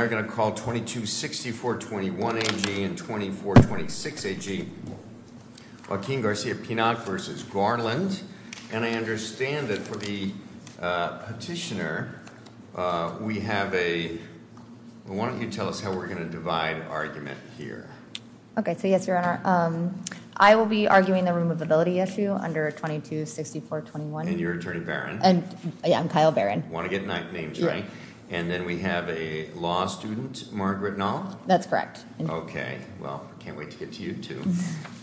And I understand that for the petitioner, we have a, why don't you tell us how we're going to divide argument here. Okay, so yes, your honor, I will be arguing the removability issue under 226421. And you're attorney baron? And yeah, I'm Kyle Barron. Want to get names right? And then we have a law student, Margaret Knoll. That's correct. Okay, well, I can't wait to get to you too.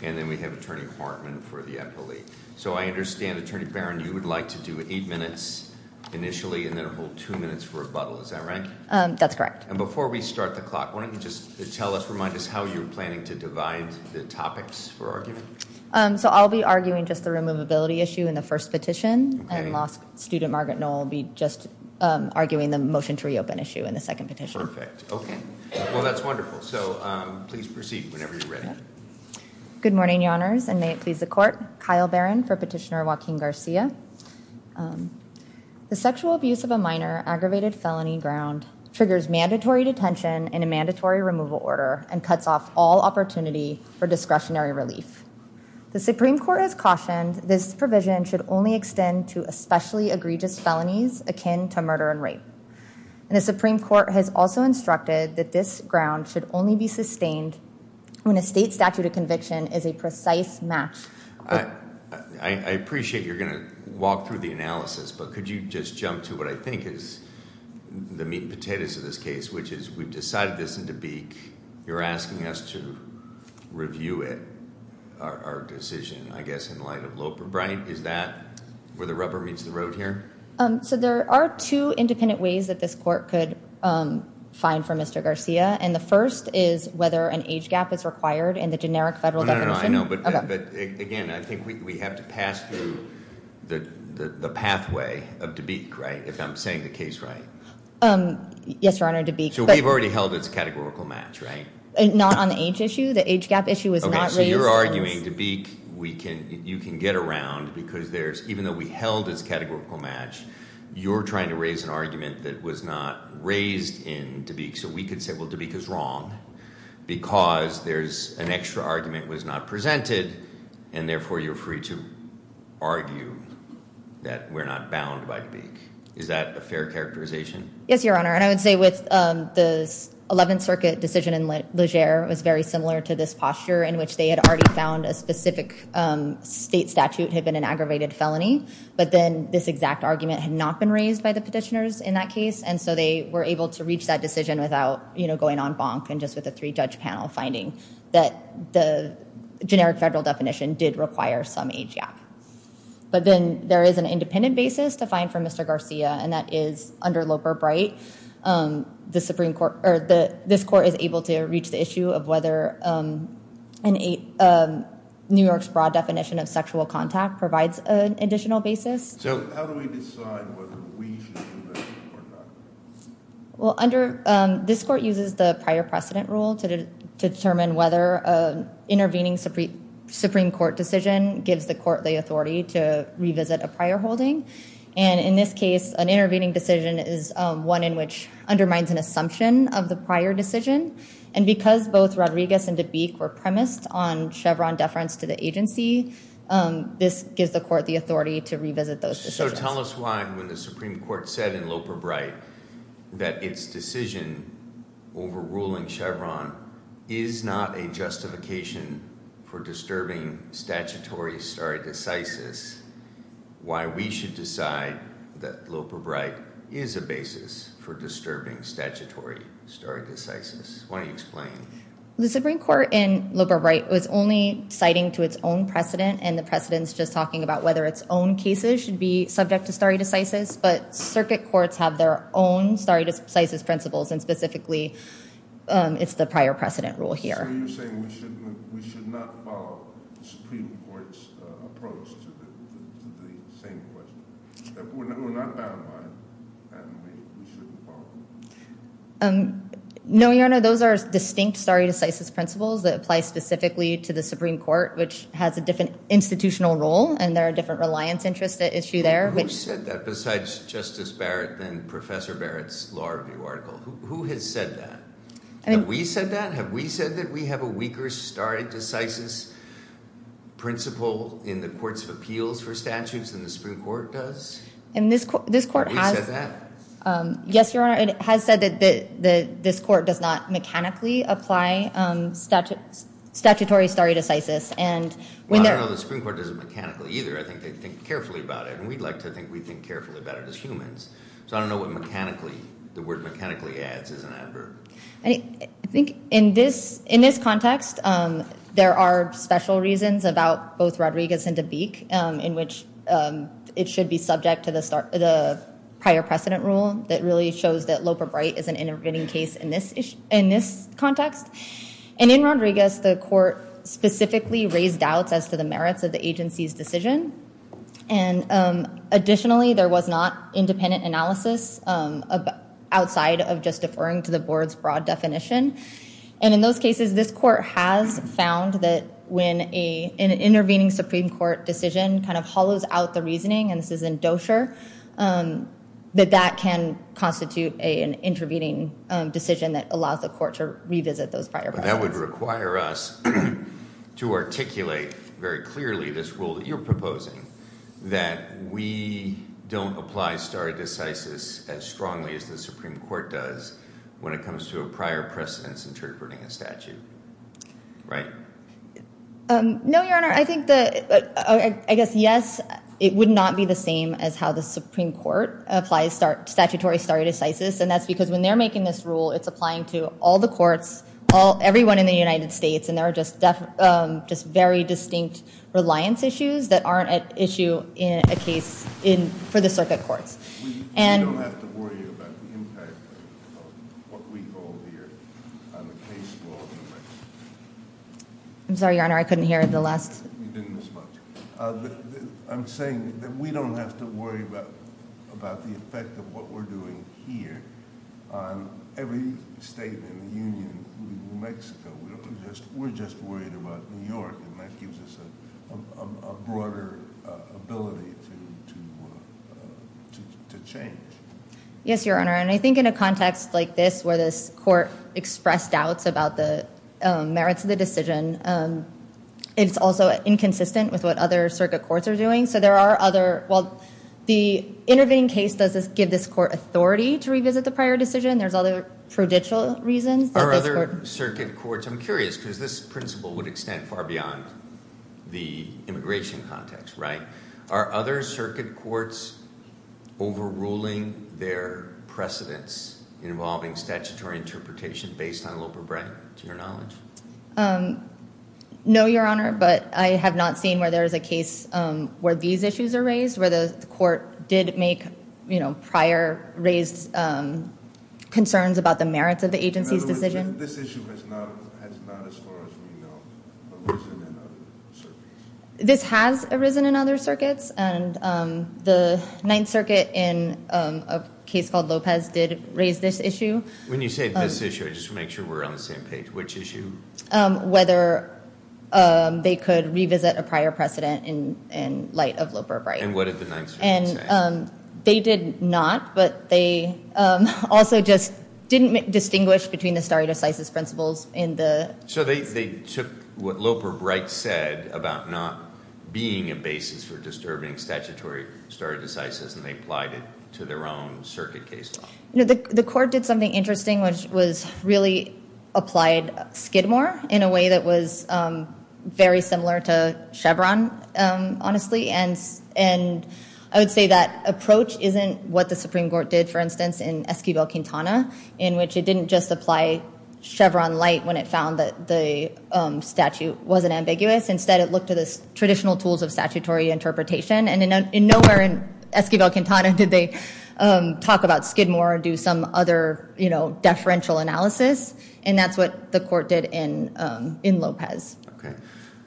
And then we have attorney Hartman for the appellee. So I understand, attorney baron, you would like to do eight minutes initially and then hold two minutes for rebuttal, is that right? That's correct. And before we start the clock, why don't you just tell us, remind us how you're planning to divide the topics for argument? So I'll be arguing just the removability issue in the first petition. And law student Margaret Knoll will be just arguing the motion to reopen issue in the second petition. Okay. Well, that's wonderful. So please proceed whenever you're ready. Good morning, your honors, and may it please the court. Kyle Barron for petitioner Joaquin Garcia. The sexual abuse of a minor aggravated felony ground triggers mandatory detention in a mandatory removal order and cuts off all opportunity for discretionary relief. The Supreme Court has cautioned this provision should only extend to especially egregious felonies akin to murder and rape. And the Supreme Court has also instructed that this ground should only be sustained when a state statute of conviction is a precise match. I appreciate you're going to walk through the analysis, but could you just jump to what I think is the meat and potatoes of this case, which is we've decided this in Dubuque. You're asking us to review it, our decision, I guess, in light of Loper. Brian, is that where the rubber meets the road here? So there are two independent ways that this court could find for Mr. Garcia. And the first is whether an age gap is required in the generic federal definition. No, no, no, I know, but again, I think we have to pass through the pathway of Dubuque, right, if I'm saying the case right? Yes, your honor, Dubuque. So we've already held its categorical match, right? Not on the age issue, the age gap issue was not raised. So you're arguing Dubuque, you can get around, because even though we held its categorical match, you're trying to raise an argument that was not raised in Dubuque. So we could say, well, Dubuque is wrong, because an extra argument was not presented, and therefore you're free to argue that we're not bound by Dubuque. Is that a fair characterization? Yes, your honor, and I would say with the 11th Circuit decision in Legere, it was very similar to this posture in which they had already found a specific state statute had been an aggravated felony. But then this exact argument had not been raised by the petitioners in that case. And so they were able to reach that decision without going on bonk, and just with a three-judge panel finding that the generic federal definition did require some age gap. But then there is an independent basis to find for Mr. Garcia, and that is under Loper-Bright. This court is able to reach the issue of whether New York's broad definition of sexual contact provides an additional basis. So how do we decide whether we should do that or not? Well, this court uses the prior precedent rule to determine whether intervening Supreme Court decision gives the court the authority to revisit a prior holding. And in this case, an intervening decision is one in which undermines an assumption of the prior decision. And because both Rodriguez and Dubuque were premised on Chevron deference to the agency, this gives the court the authority to revisit those decisions. So tell us why when the Supreme Court said in Loper-Bright that its decision over ruling Chevron is not a justification for disturbing statutory stare decisis, why we should decide that Loper-Bright is a basis for disturbing statutory stare decisis. Why don't you explain? The Supreme Court in Loper-Bright was only citing to its own precedent, and the precedent's just talking about whether its own cases should be subject to stare decisis. But circuit courts have their own stare decisis principles, and specifically, it's the prior precedent rule here. So you're saying we should not follow the Supreme Court's approach to the same question? We're not bound by it, and we shouldn't follow it? No, Your Honor, those are distinct stare decisis principles that apply specifically to the Supreme Court, which has a different institutional role, and there are different reliance interests at issue there. Who said that besides Justice Barrett and Professor Barrett's law review article? Who has said that? Have we said that? Have we said that we have a weaker stare decisis principle in the courts of appeals for statutes than the Supreme Court does? Yes, Your Honor, it has said that this court does not mechanically apply statutory stare decisis. Well, I don't know the Supreme Court does it mechanically either. I think they think carefully about it, and we'd like to think we think carefully about it as humans. So I don't know what mechanically, the word mechanically adds is an adverb. I think in this context, there are special reasons about both Rodriguez and DeBake in which it should be subject to the prior precedent rule that really shows that Loper-Bright is an intervening case in this context. And in Rodriguez, the court specifically raised doubts as to the merits of the agency's decision, and additionally, there was not independent analysis outside of just deferring to the board's broad definition. And in those cases, this court has found that when an intervening Supreme Court decision kind of hollows out the reasoning, and this is in dosher, that that can constitute an intervening decision that allows the court to revisit those prior precedents. That would require us to articulate very clearly this rule that you're proposing, that we don't apply stare decisis as strongly as the Supreme Court does when it comes to a prior precedence interpreting a statute, right? No, Your Honor. I think that, I guess, yes, it would not be the same as how the Supreme Court applies statutory stare decisis, and that's because when they're making this rule, it's applying to all the courts, everyone in the United States, and there are just very distinct reliance issues that aren't at issue in a case for the circuit courts. We don't have to worry about the impact of what we hold here on the case law. I'm sorry, Your Honor. I couldn't hear the last... You didn't respond. I'm saying that we don't have to worry about the effect of what we're doing here on every state in the union, including New Mexico. We're just worried about New York, and that gives us a broader ability to change. Yes, Your Honor, and I think in a context like this, where this court expressed doubts about the merits of the decision, it's also inconsistent with what other circuit courts are doing, so there are other... The intervening case doesn't give this court authority to revisit the prior decision. There's other prudential reasons. Are other circuit courts... I'm curious because this principle would extend far beyond the immigration context, right? Are other circuit courts overruling their precedents involving statutory interpretation based on Loper-Brett, to your knowledge? No, Your Honor, but I have not seen where there is a case where these issues are raised, where the court did make prior raised concerns about the merits of the agency's decision. In other words, this issue has not, as far as we know, arisen in other circuits. This has arisen in other circuits, and the Ninth Circuit, in a case called Lopez, did raise this issue. When you say this issue, I just want to make sure we're on the same page. Which issue? Whether they could revisit a prior precedent in light of Loper-Brett. And what did the Ninth Circuit say? They did not, but they also just didn't distinguish between the stare decisis principles in the... So they took what Loper-Brett said about not being a basis for disturbing statutory stare decisis, and they applied it to their own circuit case law. The court did something interesting, which was really applied Skidmore in a way that was very similar to Chevron, honestly. And I would say that approach isn't what the Supreme Court did, for instance, in Esquivel-Quintana, in which it didn't just apply Chevron light when it found that the statute wasn't ambiguous. Instead, it looked at the traditional tools of statutory interpretation. And in nowhere in Esquivel-Quintana did they talk about Skidmore or do some other deferential analysis. And that's what the court did in Lopez. Okay.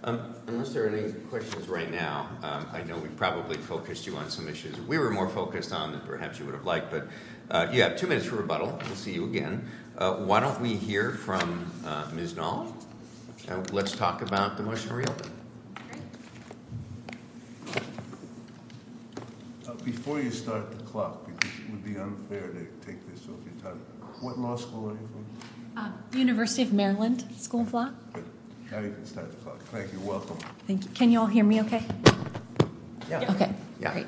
Unless there are any questions right now, I know we probably focused you on some issues we were more focused on than perhaps you would have liked. But you have two minutes for rebuttal. We'll see you again. Why don't we hear from Ms. Knoll? Let's talk about the motion to reopen. Before you start the clock, because it would be unfair to take this off your time, what law school are you from? The University of Maryland School of Law. How do you start the clock? Thank you. Welcome. Thank you. Can you all hear me okay? Yeah. Okay. Great.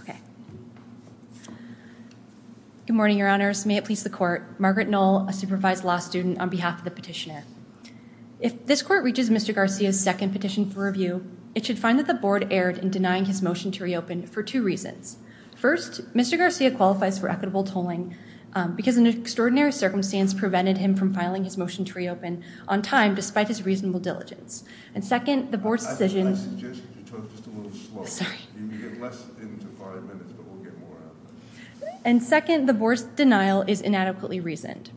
Okay. Good morning, your honors. May it please the court. Margaret Knoll, a supervised law student, on behalf of the petitioner. If this court reaches Mr. Garcia's second petition for review, it should find that the board erred in denying his motion to reopen for two reasons. First, Mr. Garcia qualifies for equitable tolling because an extraordinary circumstance prevented him from filing his motion to reopen on time despite his reasonable diligence. And second, the board's decision... I suggest you talk just a little slower. Sorry. You can get less into five minutes, but we'll get more out of it. And second, the board's denial is inadequately reasoned.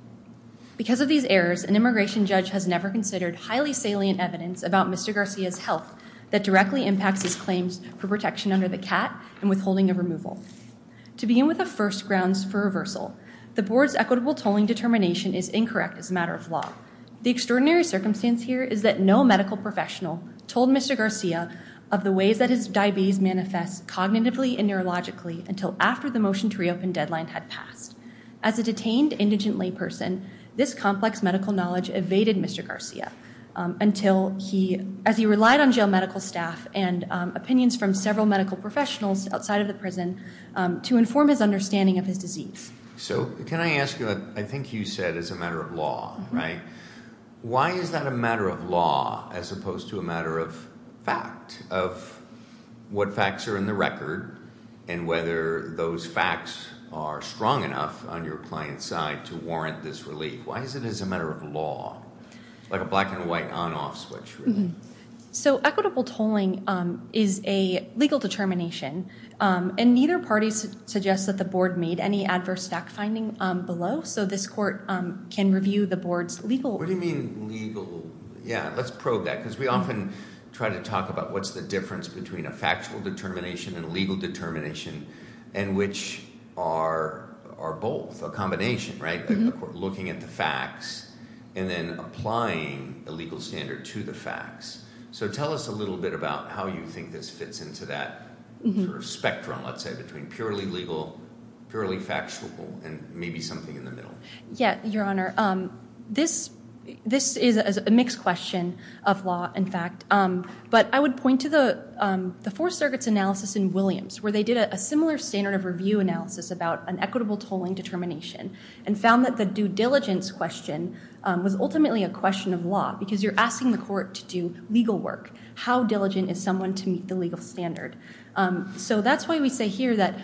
Because of these errors, an immigration judge has never considered highly salient evidence about Mr. Garcia's health that directly impacts his claims for protection under the CAT and withholding of removal. To begin with the first grounds for reversal, the board's equitable tolling determination is incorrect as a matter of law. The extraordinary circumstance here is that no medical professional told Mr. Garcia of the ways that his diabetes manifests cognitively and neurologically until after the motion to reopen deadline had passed. As a detained indigent layperson, this complex medical knowledge evaded Mr. Garcia until he... As he relied on jail medical staff and opinions from several medical professionals outside of the prison to inform his understanding of his disease. So can I ask you, I think you said as a matter of law, right? Why is that a matter of law as opposed to a matter of fact? Of what facts are in the record and whether those facts are strong enough on your client's side to warrant this relief? Why is it as a matter of law? Like a black and white on-off switch. So equitable tolling is a legal determination and neither party suggests that the board made any adverse fact finding below. So this court can review the board's legal... What do you mean legal? Yeah, let's probe that because we often try to talk about what's the difference between a factual determination and a legal determination and which are both a combination, right? Looking at the facts and then applying a legal standard to the facts. So tell us a little bit about how you think this fits into that sort of spectrum, let's say, between purely legal, purely factual and maybe something in the middle. Yeah, Your Honor, this is a mixed question of law and fact. But I would point to the Fourth Circuit's analysis in Williams where they did a similar standard of review analysis about an equitable tolling determination and found that the due diligence question was ultimately a question of law because you're asking the court to do legal work. How diligent is someone to meet the legal standard? So that's why we say here that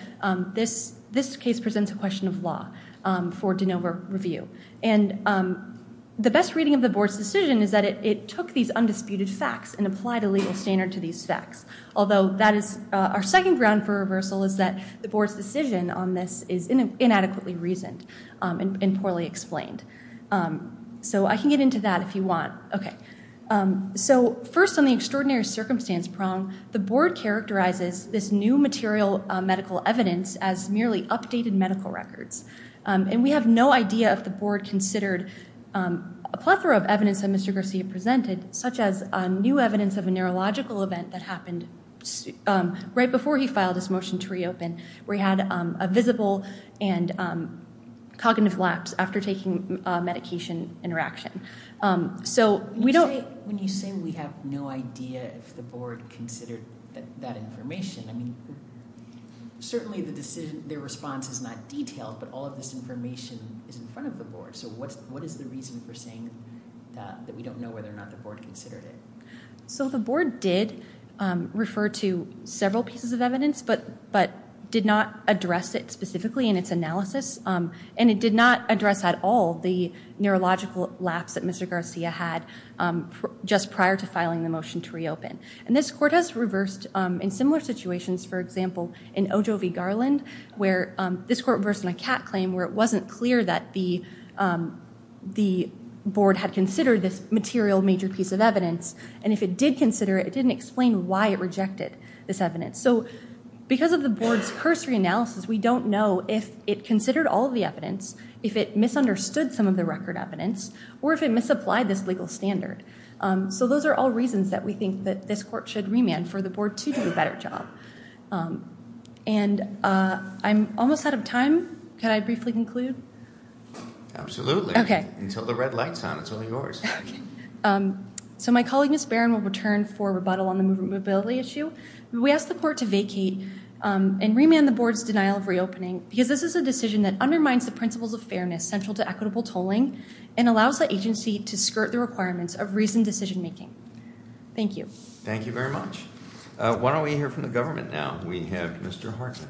this case presents a question of law for de novo review. And the best reading of the board's decision is that it took these undisputed facts and applied a legal standard to these facts. Although that is... Our second ground for reversal is that the board's decision on this is inadequately reasoned and poorly explained. So I can get into that if you want. Okay, so first on the extraordinary circumstance prong, the board characterizes this new material medical evidence as merely updated medical records. And we have no idea if the board considered a plethora of evidence that Mr. Garcia presented, such as new evidence of a neurological event that happened right before he filed his motion to reopen, where he had a visible and cognitive lapse after taking a medication interaction. So we don't... When you say we have no idea if the board considered that information, I mean, certainly the decision... Their response is not detailed, but all of this information is in front of the board. So what is the reason for saying that we don't know whether or not the board considered it? So the board did refer to several pieces of evidence, but did not address it specifically in its analysis. And it did not address at all the neurological lapse that Mr. Garcia had just prior to filing the motion to reopen. And this court has reversed in similar situations, for example, in Ojo v. Garland, where this court reversed in a cat claim where it wasn't clear that the board had considered this material major piece of evidence. And if it did consider it, it didn't explain why it rejected this evidence. So because of the board's cursory analysis, we don't know if it considered all of the evidence, if it misunderstood some of the record evidence, or if it misapplied this legal standard. So those are all reasons that we think that this court should remand for the board to do a better job. And I'm almost out of time. Can I briefly conclude? Absolutely. Okay. Until the red light's on. It's all yours. So my colleague, Ms. Barron, will return for rebuttal on the movability issue. We ask the court to vacate and remand the board's denial of reopening because this is a decision that undermines the principles of fairness central to equitable tolling and allows the agency to skirt the requirements of reasoned decision making. Thank you. Thank you very much. Why don't we hear from the government now? We have Mr. Hartman.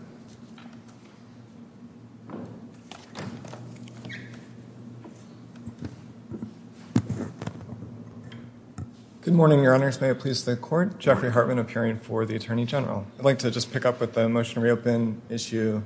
Good morning, your honors. May it please the court. Jeffrey Hartman appearing for the attorney general. I'd like to just pick up with the motion to reopen issue.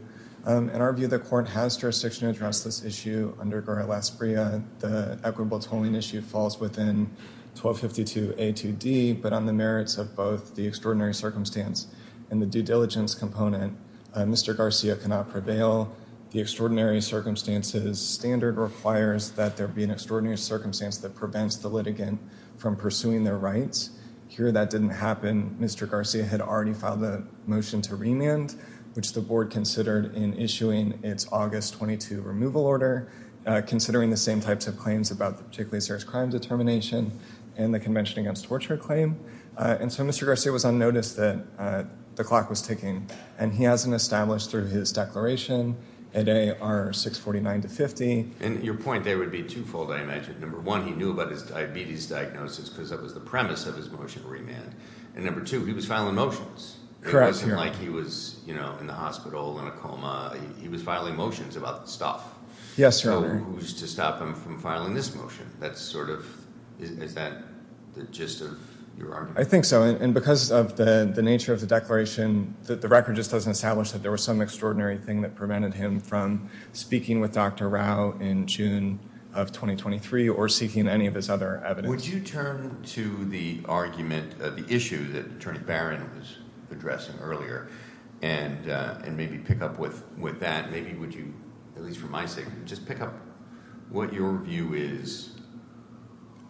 In our view, the court has jurisdiction to address this issue under GARA-Las Bria. The equitable tolling issue falls within 1252A2D, but on the merits of both the extraordinary circumstance and the due diligence component, Mr. Garcia cannot prevail. The extraordinary circumstances standard requires that there be an extraordinary circumstance that prevents the litigant from pursuing their rights. Here, that didn't happen. Mr. Garcia had already filed the motion to remand, which the board considered in issuing its August 22 removal order, considering the same types of claims about the particularly serious crime determination and the convention against torture claim. And so Mr. Garcia was unnoticed that the clock was ticking and he hasn't established through his declaration at AR-649-50. And your point there would be twofold, I imagine. Number one, he knew about his diabetes diagnosis because that was the premise of his motion to remand. And number two, he was filing motions. It wasn't like he was in the hospital in a coma. He was filing motions about stuff. So who's to stop him from filing this motion? That's sort of, is that the gist of your argument? I think so. And because of the nature of the declaration, the record just doesn't establish that there was some extraordinary thing that prevented him from speaking with Dr. Rao in June of 2023 or seeking any of his other evidence. Would you turn to the argument of the issue that Attorney Barron was addressing earlier and maybe pick up with that? Maybe would you, at least for my sake, just pick up what your view is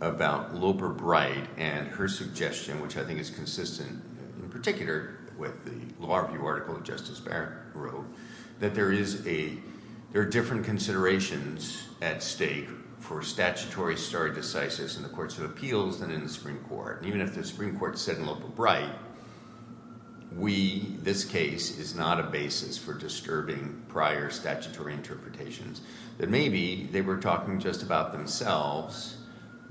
about Loper-Bright and her suggestion, which I think is consistent in particular with the Law Review article that Justice Barron wrote, that there are different considerations at stake for statutory stare decisis in the courts of appeals than in the Supreme Court. And even if the Supreme Court said in Loper-Bright, this case is not a basis for disturbing prior statutory interpretations, that maybe they were talking just about themselves,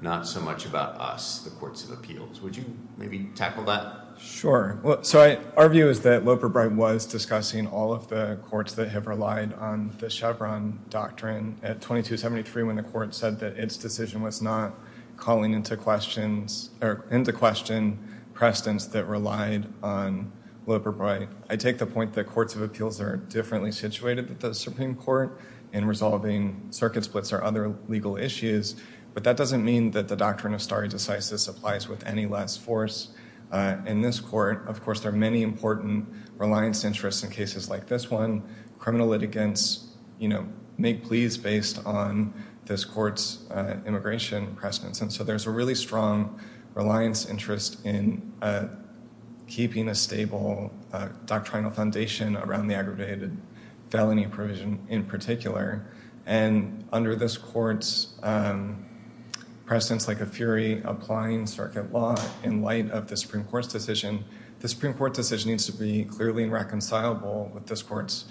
not so much about us, the courts of appeals. Would you maybe tackle that? Sure. So our view is that Loper-Bright was discussing all of the courts that have relied on the Chevron doctrine at 2273, when the court said that its decision was not calling into question precedents that relied on Loper-Bright. I take the point that courts of appeals are differently situated than the Supreme Court in resolving circuit splits or other legal issues. But that doesn't mean that the doctrine of stare decisis applies with any less force in this court. Of course, there are many important reliance interests in cases like this one. Criminal litigants make pleas based on this court's immigration precedents. And so there's a really strong reliance interest in keeping a stable doctrinal foundation around the aggravated felony provision in particular. And under this court's precedents, like a fury applying circuit law in light of the Supreme Court's decision, the Supreme Court decision needs to be clearly reconcilable with this court's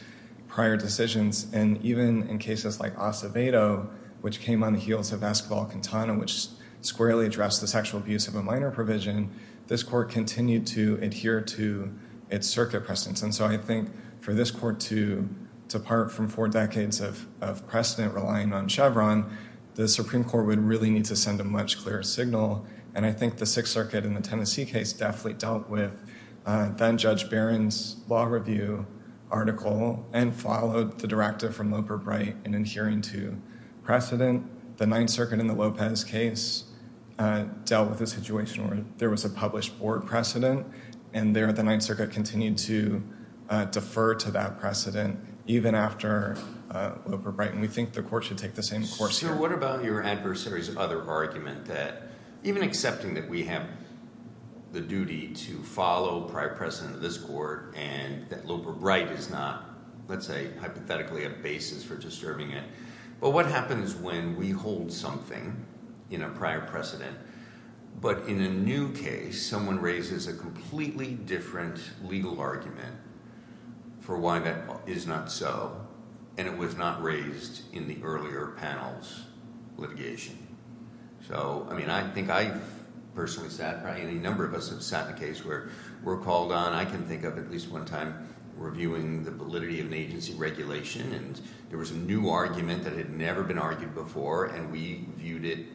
prior decisions. And even in cases like Acevedo, which came on the heels of Escobar-Quintana, which squarely addressed the sexual abuse of a minor provision, this court continued to adhere to its circuit precedents. And so I think for this court to depart from four decades of precedent relying on Chevron, the Supreme Court would really need to send a much clearer signal. And I think the Sixth Circuit in the Tennessee case definitely dealt with then-Judge Barron's law review article and followed the directive from Loper-Bright in adhering to precedent. The Ninth Circuit in the Lopez case dealt with a situation where there was a published board precedent. And there, the Ninth Circuit continued to defer to that precedent, even after Loper-Bright. And we think the court should take the same course here. Sir, what about your adversary's other argument that, even accepting that we have the duty to follow prior precedent in this court and that Loper-Bright is not, let's say, hypothetically a basis for disturbing it, but what happens when we hold something in a prior precedent, but in a new case, someone raises a completely different legal argument for why that is not so, and it was not raised in the earlier panel's litigation? So, I mean, I think I've personally sat, probably any number of us have sat in a case where we're called on, I can think of at least one time, reviewing the validity of an agency regulation, and there was a new argument that had never been argued before, and we viewed it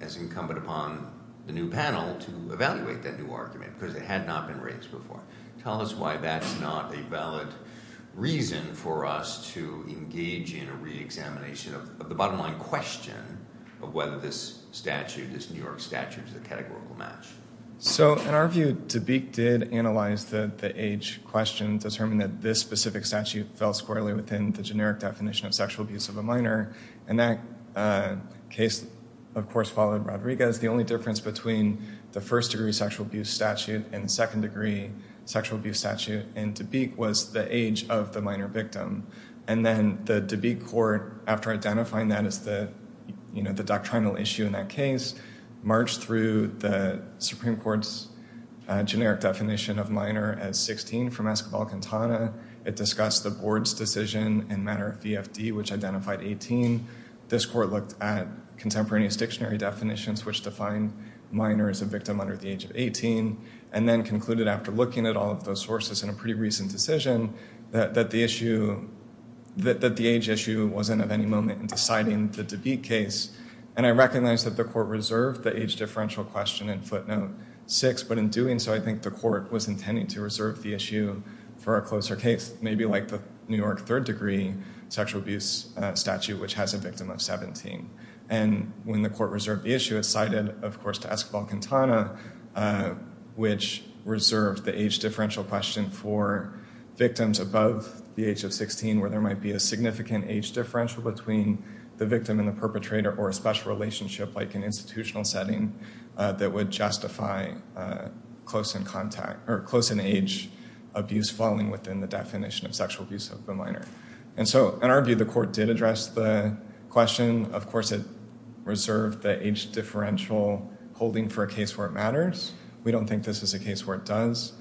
as incumbent upon the new panel to evaluate that new argument, because it had not been raised before. Tell us why that's not a valid reason for us to engage in a re-examination of the bottom line question of whether this statute, this New York statute, is a categorical match. So, in our view, DeBake did analyze the age question, determine that this specific statute fell squarely within the generic definition of sexual abuse of a minor, and that case, of course, followed Rodriguez. The only difference between the first degree sexual abuse statute and the second degree sexual abuse statute in DeBake was the age of the minor victim, and then the DeBake court, after identifying that as the doctrinal issue in that case, marched through the Supreme Court's generic definition of minor as 16 from Escobar-Quintana. It discussed the board's decision in matter of VFD, which identified 18. This court looked at contemporaneous dictionary definitions, which define minor as a victim under the age of 18, and then concluded, after looking at all of those sources in a pretty recent decision, that the age issue wasn't of any moment in deciding the DeBake case. And I recognize that the court reserved the age differential question in footnote 6, but in doing so, I think the court was intending to reserve the issue for a closer case, maybe like the New York third degree sexual abuse statute, which has a victim of 17. And when the court reserved the issue, it cited, of course, to Escobar-Quintana, which reserved the age differential question for victims above the age of 16, where there might be a significant age differential between the victim and the perpetrator, or a special relationship, like an institutional setting, that would justify close in age abuse falling within the definition of sexual abuse of the minor. And so, in our view, the court did address the question. Of course, it reserved the age differential holding for a case where it matters. We don't think this is a case where it does.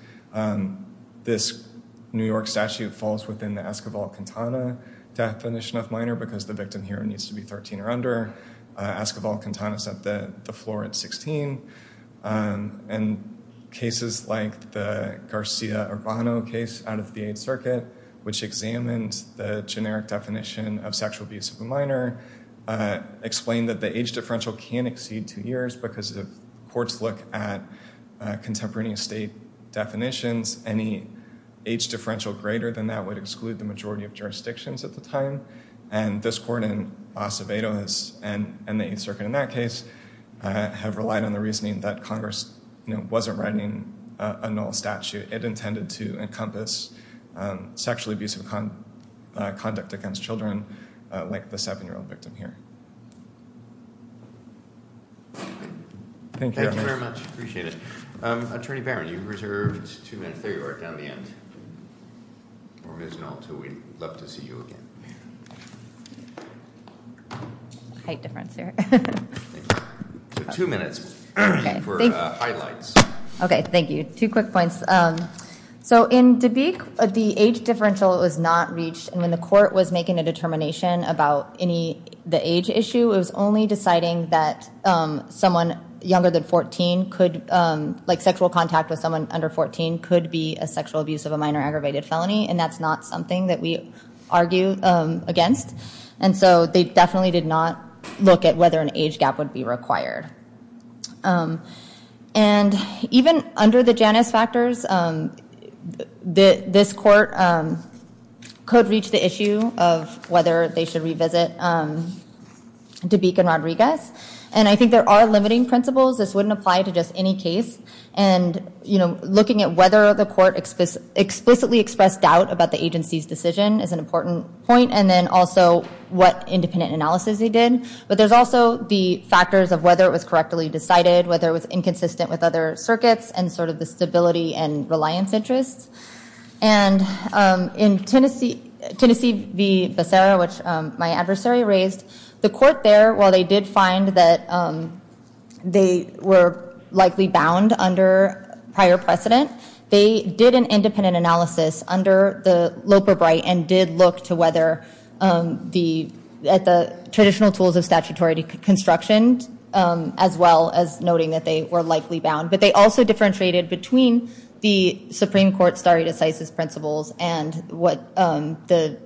This New York statute falls within the Escobar-Quintana definition of minor, because the victim here needs to be 13 or under. Escobar-Quintana set the floor at 16. And cases like the Garcia-Urbano case out of the Eighth Circuit, which examined the generic definition of sexual abuse of a minor, explained that the age differential can exceed two years, because if courts look at contemporaneous state definitions, any age differential greater than that would exclude the majority of jurisdictions at the time. And this court in Acevedo and the Eighth Circuit in that case have relied on the reasoning that Congress wasn't writing a null statute. It intended to encompass sexually abusive conduct against children, like the seven-year-old victim here. Thank you. Thank you very much. Appreciate it. Attorney Barron, you've reserved two minutes. There you are, down at the end. Or Ms. Nolte, who we'd love to see you again. Height difference here. Two minutes for highlights. OK, thank you. Two quick points. So in Dubique, the age differential was not reached. And when the court was making a determination about the age issue, it was only deciding that someone younger than 14, like sexual contact with someone under 14, could be a sexual abuse of a minor aggravated felony. And that's not something that we argue against. And so they definitely did not look at whether an age gap would be required. And even under the Janus factors, this court could reach the issue of whether they should revisit Dubique and Rodriguez. And I think there are limiting principles. This wouldn't apply to just any case. And looking at whether the court explicitly expressed doubt about the agency's decision is an important point. And then also, what independent analysis they did. But there's also the factors of whether it was correctly decided, whether it was inconsistent with other circuits, and sort of the stability and reliance interests. And in Tennessee v. Becerra, which my adversary raised, the court there, while they did find that they were likely bound under prior precedent, they did an independent analysis under the Loper-Bright and did look to whether the traditional tools of statutory construction, as well as noting that they were likely bound. But they also differentiated between the Supreme Court stare decisis principles and what the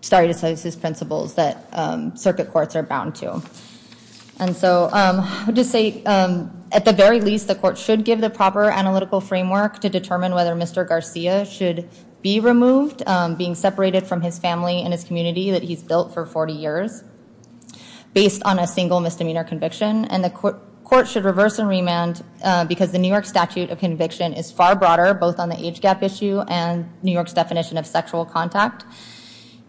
stare decisis principles that circuit courts are bound to. And so I would just say, at the very least, the court should give the proper analytical framework to determine whether Mr. Garcia should be removed, being separated from his family and his community that he's built for 40 years, based on a single misdemeanor conviction. And the court should reverse and remand, because the New York statute of conviction is far broader, both on the age gap issue and New York's definition of sexual contact.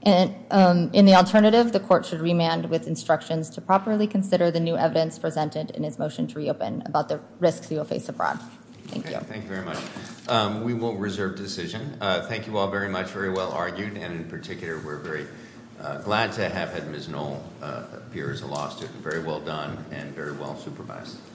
And in the alternative, the court should remand with instructions to properly consider the new evidence presented in his motion to reopen about the risks he will face abroad. Thank you. Thank you very much. We will reserve decision. Thank you all very much. Very well argued. And in particular, we're very glad to have had Ms. Knoll appear as a law student. Very well done, and very well supervised.